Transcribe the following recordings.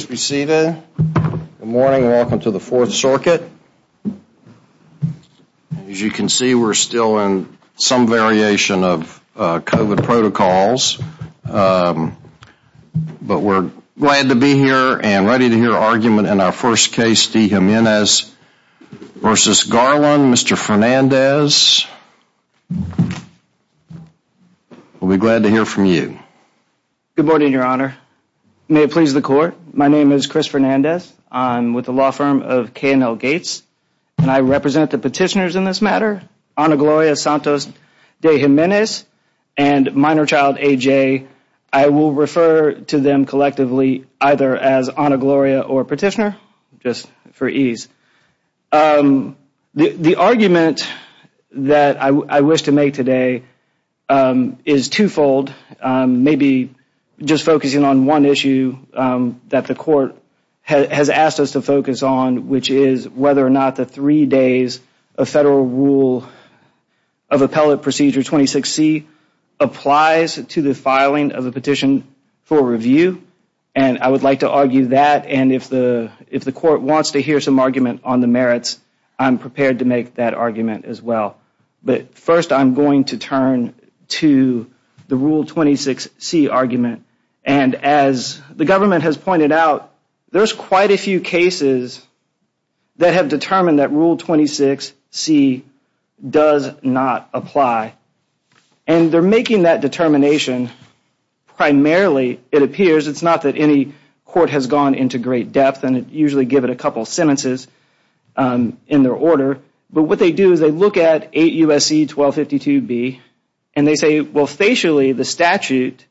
Good morning. Welcome to the Fourth Circuit. As you can see, we're still in some variation of COVID protocols, but we're glad to be here and ready to hear argument in our first case, De Jimenez v. Garland. Mr. Fernandez, we'll be glad to hear from you. Good morning, Your Honor. May it please the Court, my name is Chris Fernandez. I'm with the law firm of K&L Gates, and I represent the petitioners in this matter, Honor Gloria Santos-De Jimenez and minor child AJ. I will refer to them collectively either as Honor Gloria or petitioner, just for ease. The argument that I wish to make today is twofold, maybe just focusing on one issue that the Court has asked us to focus on, which is whether or not the three days of federal rule of appellate procedure 26C applies to the filing of a petition for review, and I would like to argue that, and if the Court wants to hear some argument on the merits, I'm prepared to make that argument as well. But first, I'm going to turn to the rule 26C argument, and as the government has pointed out, there's quite a few cases that have determined that rule 26C does not apply, and they're making that determination primarily, it appears, it's not that any court has gone into great depth and usually give it a couple sentences in their order, but what they do is they look at 8 U.S.C. 1252B, and they say, well, facially, the statute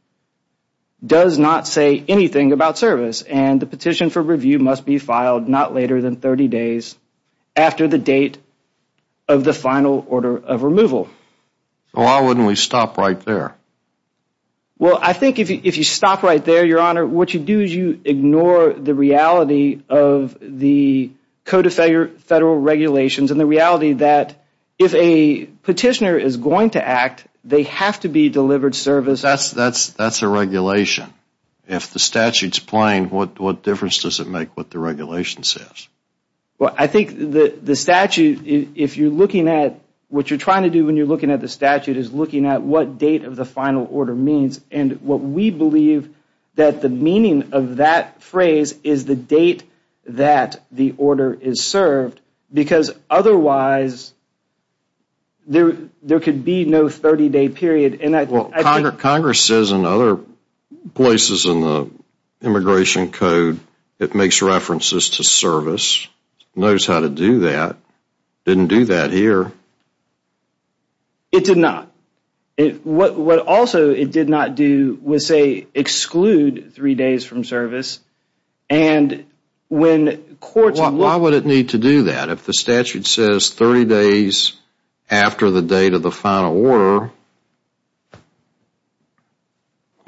does not say anything about service, and the petition for review must be filed not So why wouldn't we stop right there? Well, I think if you stop right there, Your Honor, what you do is you ignore the reality of the Code of Federal Regulations and the reality that if a petitioner is going to act, they have to be delivered service. That's a regulation. If the statute's playing, what difference does it make what the regulation says? Well, I think the statute, if you're looking at what you're trying to do when you're looking at the statute, is looking at what date of the final order means, and what we believe that the meaning of that phrase is the date that the order is served, because otherwise, there could be no 30-day period. Well, Congress says in other places in the Immigration Code, it makes references to not. What also it did not do was say exclude three days from service, and when courts Why would it need to do that? If the statute says 30 days after the date of the final order,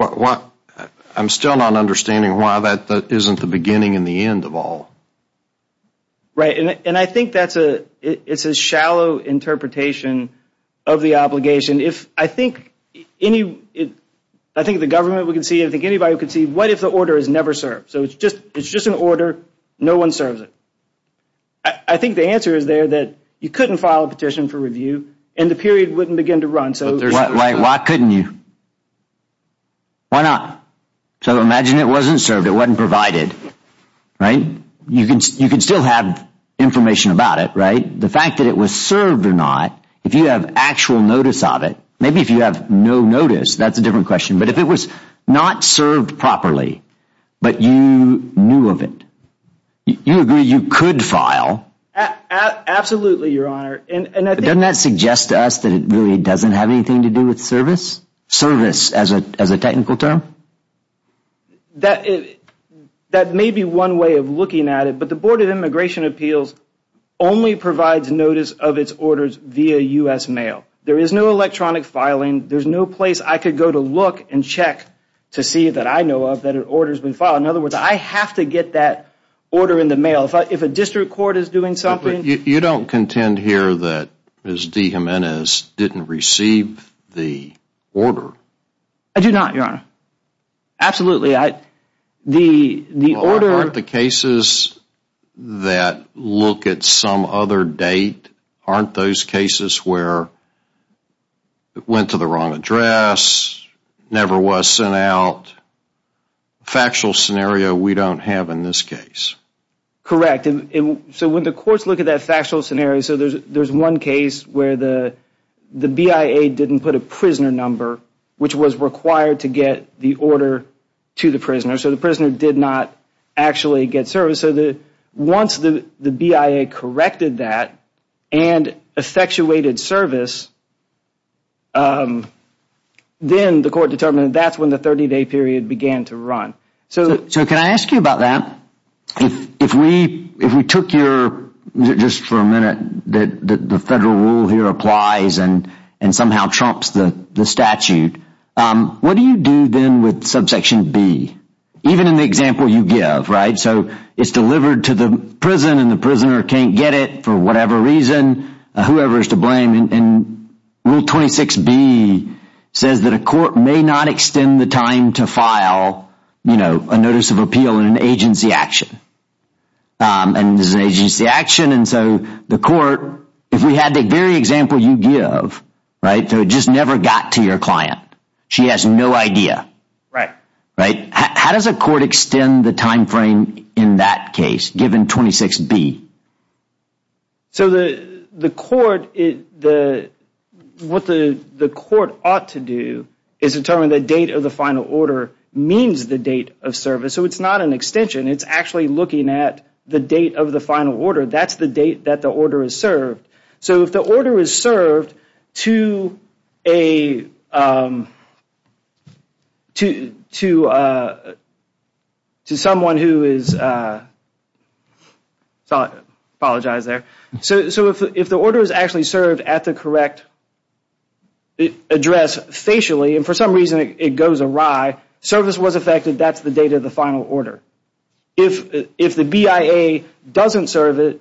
I'm still not understanding why that isn't the beginning and the end of all. Right, and I think that's a shallow interpretation of the obligation. I think the government, we can see, I think anybody can see, what if the order is never served? So it's just an order, no one serves it. I think the answer is there that you couldn't file a petition for review, and the period wouldn't begin to run. Why couldn't you? Why not? So imagine it wasn't provided, right? You can still have information about it, right? The fact that it was served or not, if you have actual notice of it, maybe if you have no notice, that's a different question, but if it was not served properly, but you knew of it, you agree you could file? Absolutely, Your Honor. Doesn't that suggest to us that it really doesn't have anything to do with service? Service as a technical term? That may be one way of looking at it, but the Board of Immigration Appeals only provides notice of its orders via U.S. mail. There is no electronic filing. There's no place I could go to look and check to see that I know of that an order has been filed. In other words, I have to get that order in the mail. If a district court is doing something... You don't contend here that Ms. De Jimenez didn't receive the order? I do not, Your Honor. Absolutely. The order... Aren't the cases that look at some other date, aren't those cases where it went to the wrong address, never was sent out? Factual scenario we don't have in this case. Correct. When the courts look at that factual scenario, there's one case where the BIA didn't put a prisoner number, which was required to get the order to the prisoner. The prisoner did not actually get service. Once the BIA corrected that and effectuated service, then the court determined that's when the 30-day period began to run. So can I ask you about that? If we took your... Just for a minute, the federal rule here applies and somehow trumps the statute. What do you do then with subsection B? Even in the example you get it for whatever reason, whoever is to blame. Rule 26B says that a court may not extend the time to file a notice of appeal in an agency action. There's an agency action, and so the court... If we had the very example you give, it just never got to your client. She has no idea. Right. Right. How does a court extend the time frame in that case, given 26B? So the court... What the court ought to do is determine the date of the final order means the date of service. So it's not an extension. It's actually looking at the date of the final order. That's the date that the order is served. So if the order is served to a to someone who is... I apologize there. So if the order is actually served at the correct address facially, and for some reason it goes awry, service was affected, that's the date of the final order. If the BIA doesn't serve it,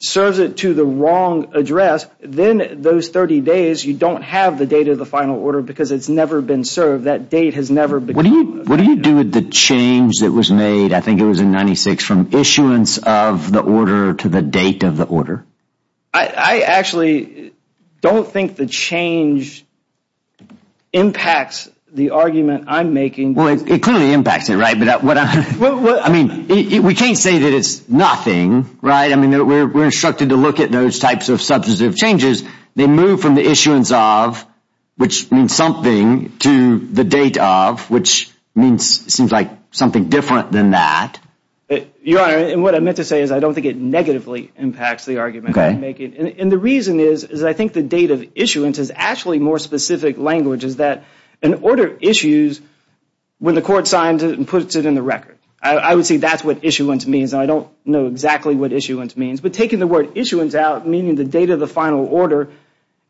serves it to the wrong address, then those 30 days you don't have the date of the final order because it's never been What do you do with the change that was made, I think it was in 96, from issuance of the order to the date of the order? I actually don't think the change impacts the argument I'm making. Well, it clearly impacts it, right? But I mean, we can't say that it's nothing, right? I mean, we're instructed to look at those types of substantive changes. They move from the issuance of, which means something, to the date of, which seems like something different than that. Your Honor, and what I meant to say is I don't think it negatively impacts the argument I'm making. And the reason is, is I think the date of issuance is actually more specific language, is that an order issues when the court signs it and puts it in the record. I would say that's what issuance means. I don't know exactly what issuance means, but taking the word issuance out, meaning the date of the final order,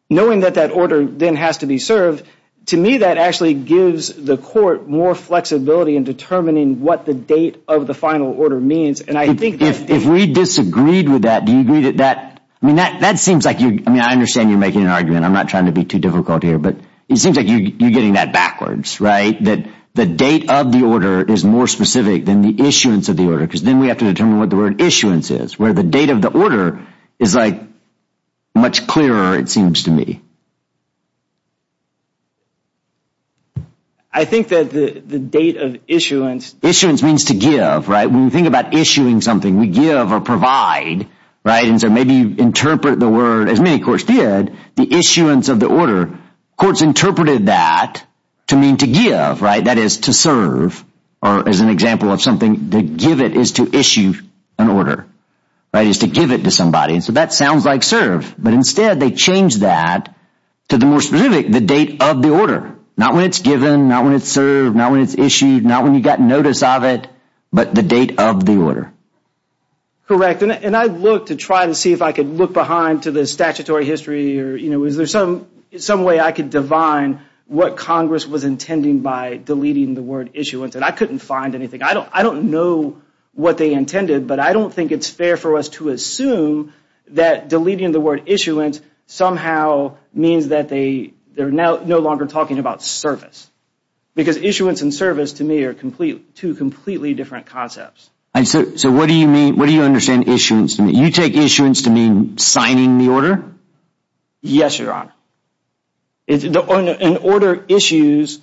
knowing that that order then has to be served, to me, that actually gives the court more flexibility in determining what the date of the final order means. And I think that- If we disagreed with that, do you agree that that, I mean, that seems like you, I mean, I understand you're making an argument. I'm not trying to be too difficult here, but it seems like you're getting that backwards, right? That the date of the order is more specific than the issuance of the order, because then we have to determine what the word much clearer, it seems to me. I think that the date of issuance- Issuance means to give, right? When we think about issuing something, we give or provide, right? And so maybe you interpret the word, as many courts did, the issuance of the order. Courts interpreted that to mean to give, right? That is to serve, or as an example of something, to give it is to issue an order, right? Is to give it to somebody. So that sounds like serve, but instead they change that to the more specific, the date of the order. Not when it's given, not when it's served, not when it's issued, not when you got notice of it, but the date of the order. Correct. And I look to try to see if I could look behind to the statutory history, or, you know, is there some way I could divine what Congress was intending by deleting the word issuance? And I couldn't find anything. I don't know what they intended, but I don't think it's fair for us to assume that deleting the word issuance somehow means that they're no longer talking about service. Because issuance and service to me are two completely different concepts. So what do you mean, what do you understand issuance to mean? You take issuance to mean signing the order? Yes, Your Honor. An order issues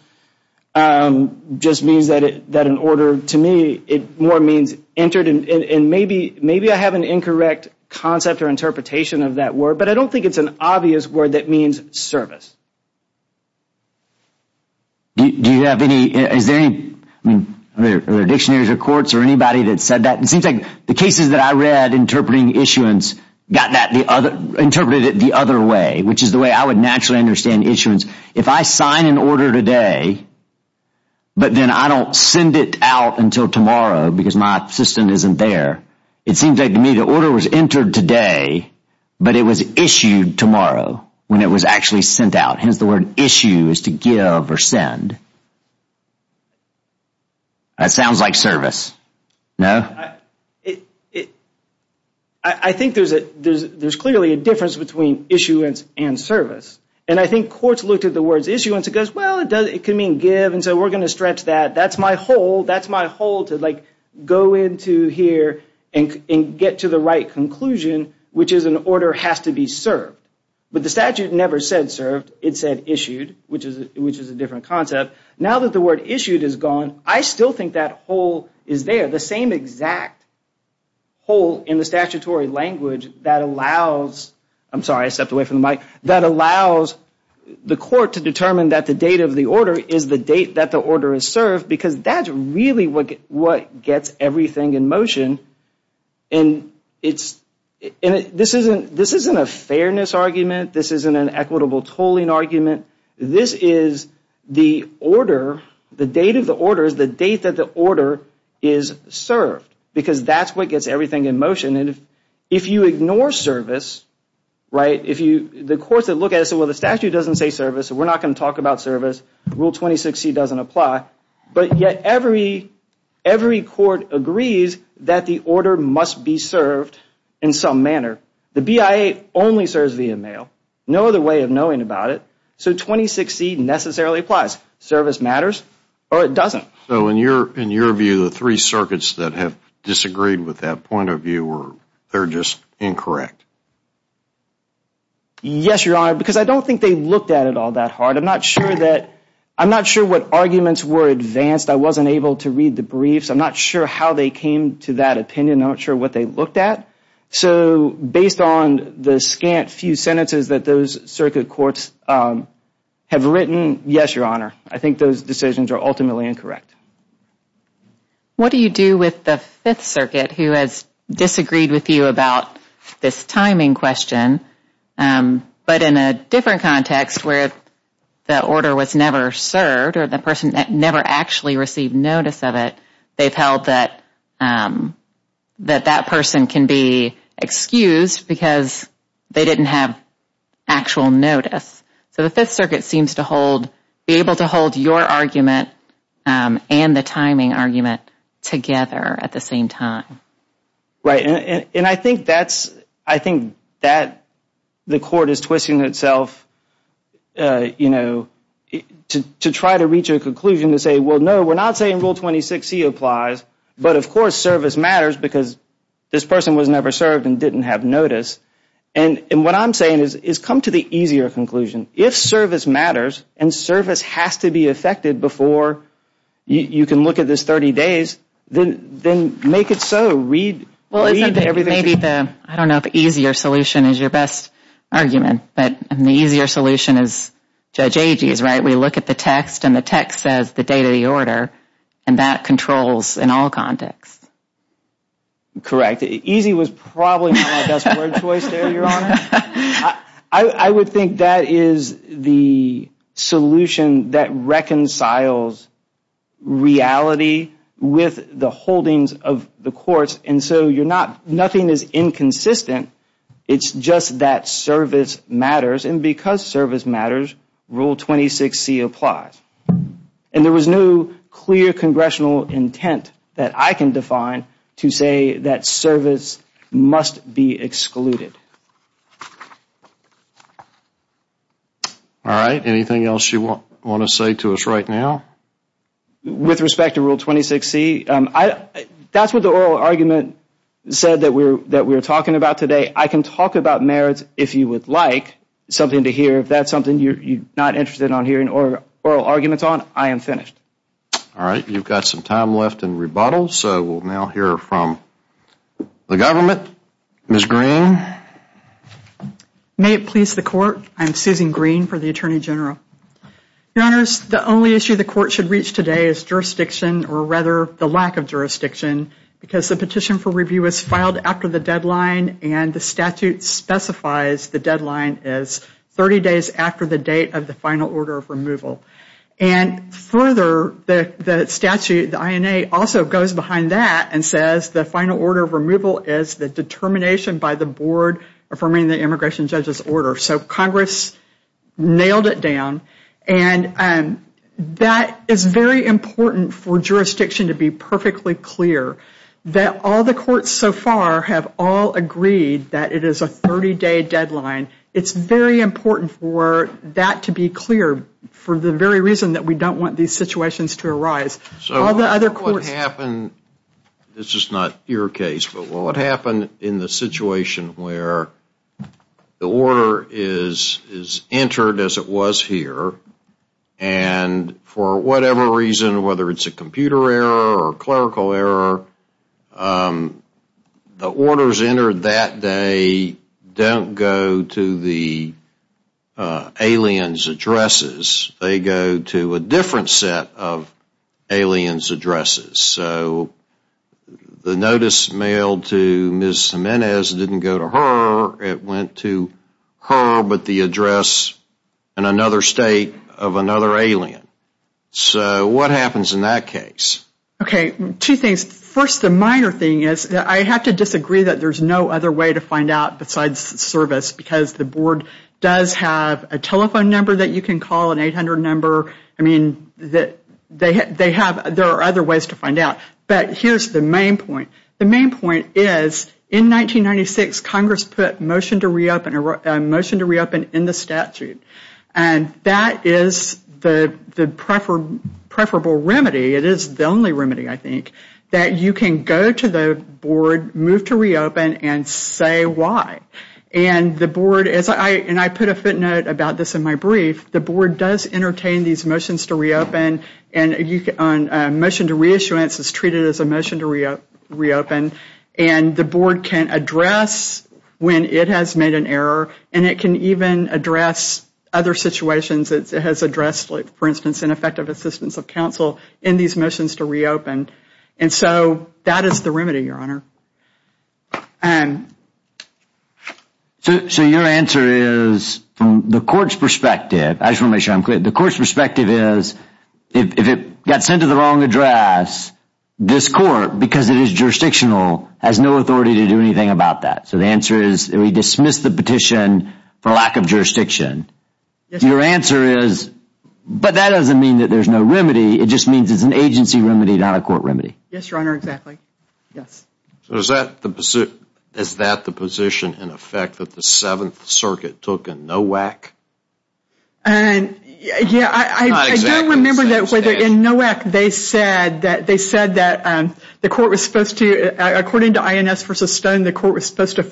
just means that an order to me, it more means entered in, and maybe I have an incorrect concept or interpretation of that word, but I don't think it's an obvious word that means service. Do you have any, is there any, are there dictionaries or courts or anybody that said that? It seems like the cases that I read interpreting issuance got that the other, interpreted it the other way, which is the way I would naturally understand issuance. If I sign an order today, but then I don't send it out until tomorrow because my assistant isn't there, it seems like to me the order was entered today, but it was issued tomorrow when it was actually sent out. Hence the word issue is to give or send. That sounds like service. No? I think there's a, there's clearly a difference between issuance and service. And I think courts looked at the words issuance, it goes well it does, it can mean give, and so we're going to stretch that. That's my whole, that's my whole to like go into here and get to the right conclusion, which is an order has to be served. But the statute never said served, it said Now that the word issued is gone, I still think that whole is there, the same exact whole in the statutory language that allows, I'm sorry I stepped away from the mic, that allows the court to determine that the date of the order is the date that the order is served, because that's really what gets everything in motion. And it's, this isn't a fairness argument, this isn't an equitable tolling argument, this is the order, the date of the order is the date that the order is served, because that's what gets everything in motion. And if you ignore service, right, if you, the courts that look at it say well the statute doesn't say service, we're not going to talk about service, Rule 26C doesn't apply, but yet every, every court agrees that the order must be served in some manner. The BIA only serves via mail, no other way of knowing about it, so 26C necessarily applies. Service matters, or it doesn't. So in your, in your view, the three circuits that have disagreed with that point of view were, they're just incorrect. Yes, Your Honor, because I don't think they looked at it all that hard, I'm not sure that, I'm not sure what arguments were advanced, I wasn't able to read the briefs, I'm not sure how they came to that opinion, I'm not sure what they looked at. So based on the scant few sentences that those circuit courts have written, yes, Your Honor, I think those decisions are ultimately incorrect. What do you do with the Fifth Circuit who has disagreed with you about this timing question, but in a different context where the order was never served or the held that, that that person can be excused because they didn't have actual notice? So the Fifth Circuit seems to hold, be able to hold your argument and the timing argument together at the same time. Right, and I think that's, I think that the court is twisting itself, you know, to try to reach a conclusion to say, well, no, we're not saying Rule 26C applies, but of course service matters because this person was never served and didn't have notice. And what I'm saying is come to the easier conclusion. If service matters and service has to be effected before you can look at this 30 days, then make it so. Read everything. Maybe the, I don't know if easier solution is your best argument, but the easier solution is Judge Agee's, right? We look at the text and the text says the date of the order and that controls in all contexts. Correct. Easy was probably my best word choice there, Your Honor. I would think that is the solution that reconciles reality with the holdings of the courts and so you're not, nothing is inconsistent. It's just that service matters and because service matters, Rule 26C applies. And there was no clear congressional intent that I can define to say that service must be excluded. All right, anything else you want to say to us right now? With respect to Rule 26C, that's what the oral argument said that we're talking about today. I can talk about merits if you would like something to hear. If that's something you're not interested in hearing oral arguments on, I am finished. All right, you've got some time left in rebuttal, so we'll now hear from the government. Ms. Green. May it please the Court, I'm Susan Green for the Attorney General. Your Honors, the only issue the Court should reach today is jurisdiction, or rather the lack of jurisdiction, because the petition for review was filed after the deadline and the statute specifies the deadline is 30 days after the date of the final order of removal. And further, the statute, the INA, also goes behind that and says the final order of removal is the determination by the board affirming the immigration judge's order. So Congress nailed it down and that is very important for jurisdiction to be perfectly clear that all the courts so far have all agreed that it is a 30-day deadline. It's very important for that to be clear for the very reason that we don't want these situations to arise. So what happened, this is not your case, but what happened in the situation where the order is entered as it was here and for whatever reason, whether it's a computer error or clerical error, the orders entered that day don't go to the alien's addresses. They go to a different set of alien's addresses. So the notice mailed to Ms. Jimenez didn't go to her, it went to her but the address in another state of another alien. So what happens in that case? Okay, two things. First, the minor thing is that I have to disagree that there's no other way to find out besides service because the board does have a telephone number that you can call, an 800 number. I mean, there are other ways to find out. But here's the main point. The main point is in 1996, Congress put a motion to reopen in the statute and that is the preferable remedy. It is the only remedy, I think, that you can go to the board, move to reopen, and say why. And the board, as I put a footnote about this in my brief, the board does entertain these motions to reopen and a motion to reissuance is treated as a motion to reopen and the board can address when it has made an error and it can even address other situations. It has addressed, for instance, ineffective assistance of counsel in these motions to reopen and so that is the remedy, Your Honor. So your answer is from the court's perspective, I just want to make sure I'm clear, the court's perspective is if it got sent to the wrong address, this court, because it is jurisdictional, has no authority to do anything about that. So the answer is we dismiss the petition for lack of jurisdiction. Your answer is, but that doesn't mean that there's no remedy, it just means it's an agency remedy, not a court remedy. Yes, Your Honor, exactly. Yes. So is that the position in effect that the Seventh Circuit took in Nowak? Yeah, I do remember that whether in Nowak they said that they said that the court was supposed to, according to INS v. Stone, the court was supposed to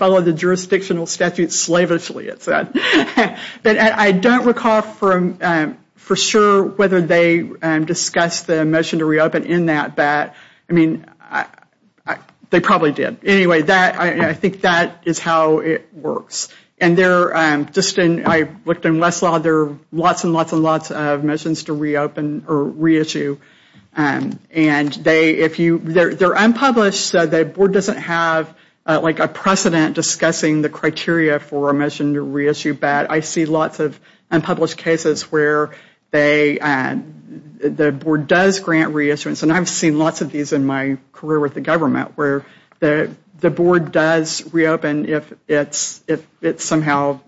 I don't recall for sure whether they discussed the motion to reopen in that bat. I mean, they probably did. Anyway, I think that is how it works and I looked in Westlaw, there are lots and lots and lots of motions to reopen or reissue and they're unpublished so the board doesn't have like a precedent discussing the criteria for a motion to reissue bat. I see lots of unpublished cases where they, the board does grant reissuance and I've seen lots of these in my career with the government where the board does reopen if it's somehow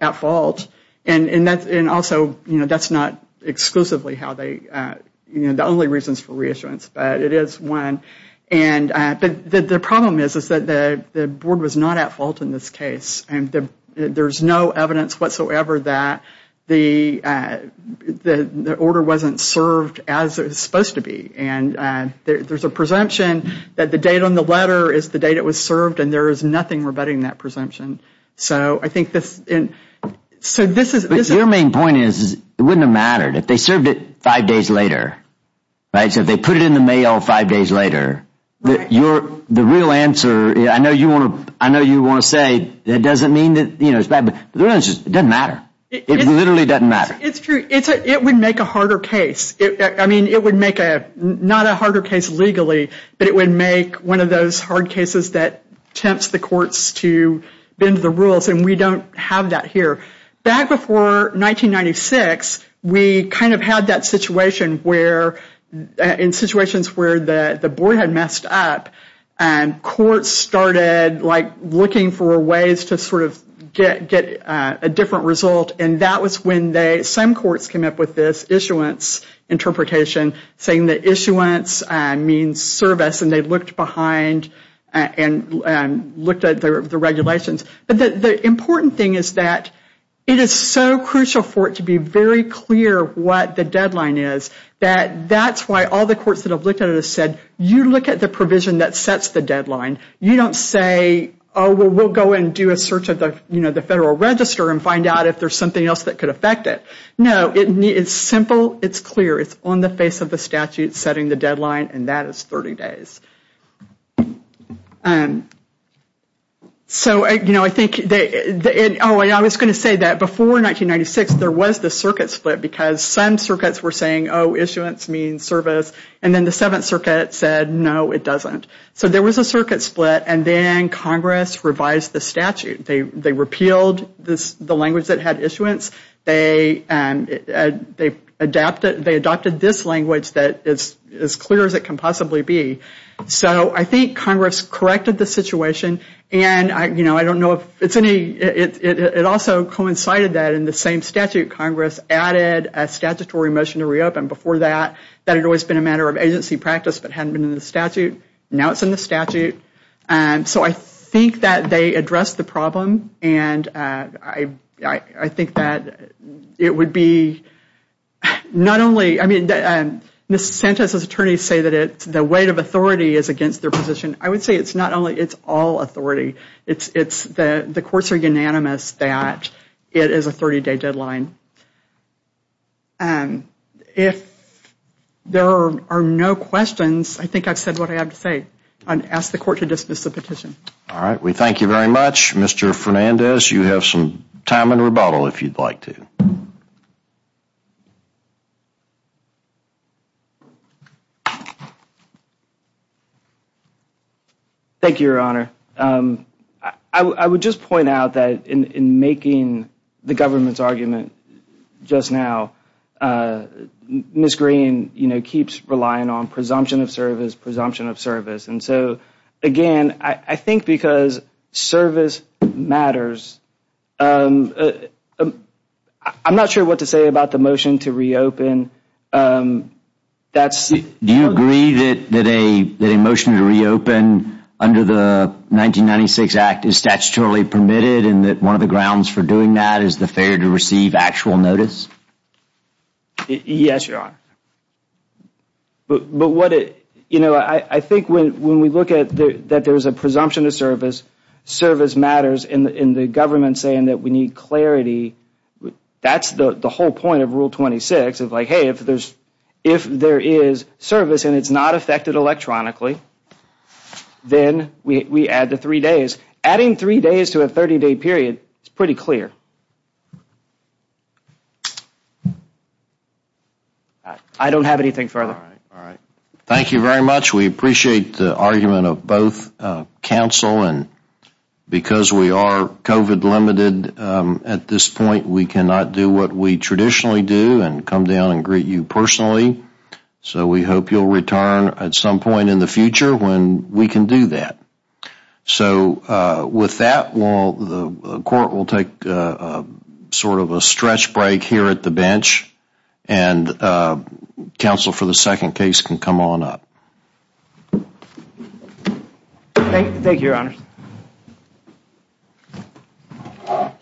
at fault and also, you know, that's not exclusively how they, you know, the only reasons for reissuance, but it is one and the problem is that the board was not at fault in this case and there's no evidence whatsoever that the order wasn't served as it was supposed to be and there's a presumption that the date on the letter is the date it was served and there is nothing rebutting that presumption. So I think this, so this is, your main point is it wouldn't have mattered if they served it five days later, right? So if they put it in the mail five days later You're, the real answer, I know you want to, I know you want to say that doesn't mean that, you know, it's bad, but the real answer is it doesn't matter. It literally doesn't matter. It's true. It's a, it would make a harder case. I mean, it would make a, not a harder case legally, but it would make one of those hard cases that tempts the courts to bend the rules and we don't have that here. Back before 1996, we kind of had that situation where, in situations where the the board had messed up and courts started like looking for ways to sort of get a different result and that was when they, some courts came up with this issuance interpretation saying that issuance means service and they looked behind and looked at the regulations, but the important thing is that it is so crucial for it to be very clear what the deadline is, that that's why all the courts that have looked at it have said you look at the provision that sets the deadline. You don't say, oh, well, we'll go and do a search of the, you know, the federal register and find out if there's something else that could affect it. No, it's simple. It's clear. It's on the face of the statute setting the deadline and that is 30 days. And so, you know, I think that, oh, I was going to say that before 1996, there was the circuit split because some circuits were saying, oh, issuance means service and then the Seventh Circuit said, no, it doesn't. So there was a circuit split and then Congress revised the statute. They repealed this, the language that had issuance. They adapted, they adopted this language that is as clear as it can possibly be. So I think Congress corrected the situation and, you know, I don't know if it's any, it also coincided that in the same statute, Congress added a statutory motion to reopen. Before that, that had always been a matter of agency practice but hadn't been in the statute. Now it's in the statute. So I think that they addressed the problem and I think that it would be not only, I mean, Ms. Sanchez's attorneys say that it's the weight of authority is against their position. I would say it's not only, it's all authority. It's the courts are unanimous that it is a 30-day deadline. If there are no questions, I think I've said what I have to say. I'll ask the court to dismiss the petition. All right. We thank you very much, Mr. Fernandez. You have some time in rebuttal if you'd like to. Thank you, Your Honor. I would just point out that in making the government's argument just now, Ms. Green, you know, keeps relying on presumption of service, presumption of service. And so, again, I think because service matters, I'm not sure what to say about the motion to reopen. Do you agree that a motion to reopen under the 1996 Act is statutorily permitted and that one of the grounds for doing that is the failure to receive actual notice? Yes, Your Honor. But what it, you know, I think when we look at that there's a presumption of service, service matters in the government saying that we need clarity. That's the whole point of Rule 26 of like, hey, if there's, if there is service and it's not affected electronically, then we add the three days. Adding three days to a 30-day period is pretty clear. I don't have anything further. All right. Thank you very much. We appreciate the argument of both counsel. And because we are COVID limited at this point, we cannot do what we traditionally do and come down and greet you personally. So we hope you'll return at some point in the future when we can do that. So with that, the Court will take sort of a stretch break here at the bench. And counsel for the second case can come on up. Thank you. Thank you, Your Honor.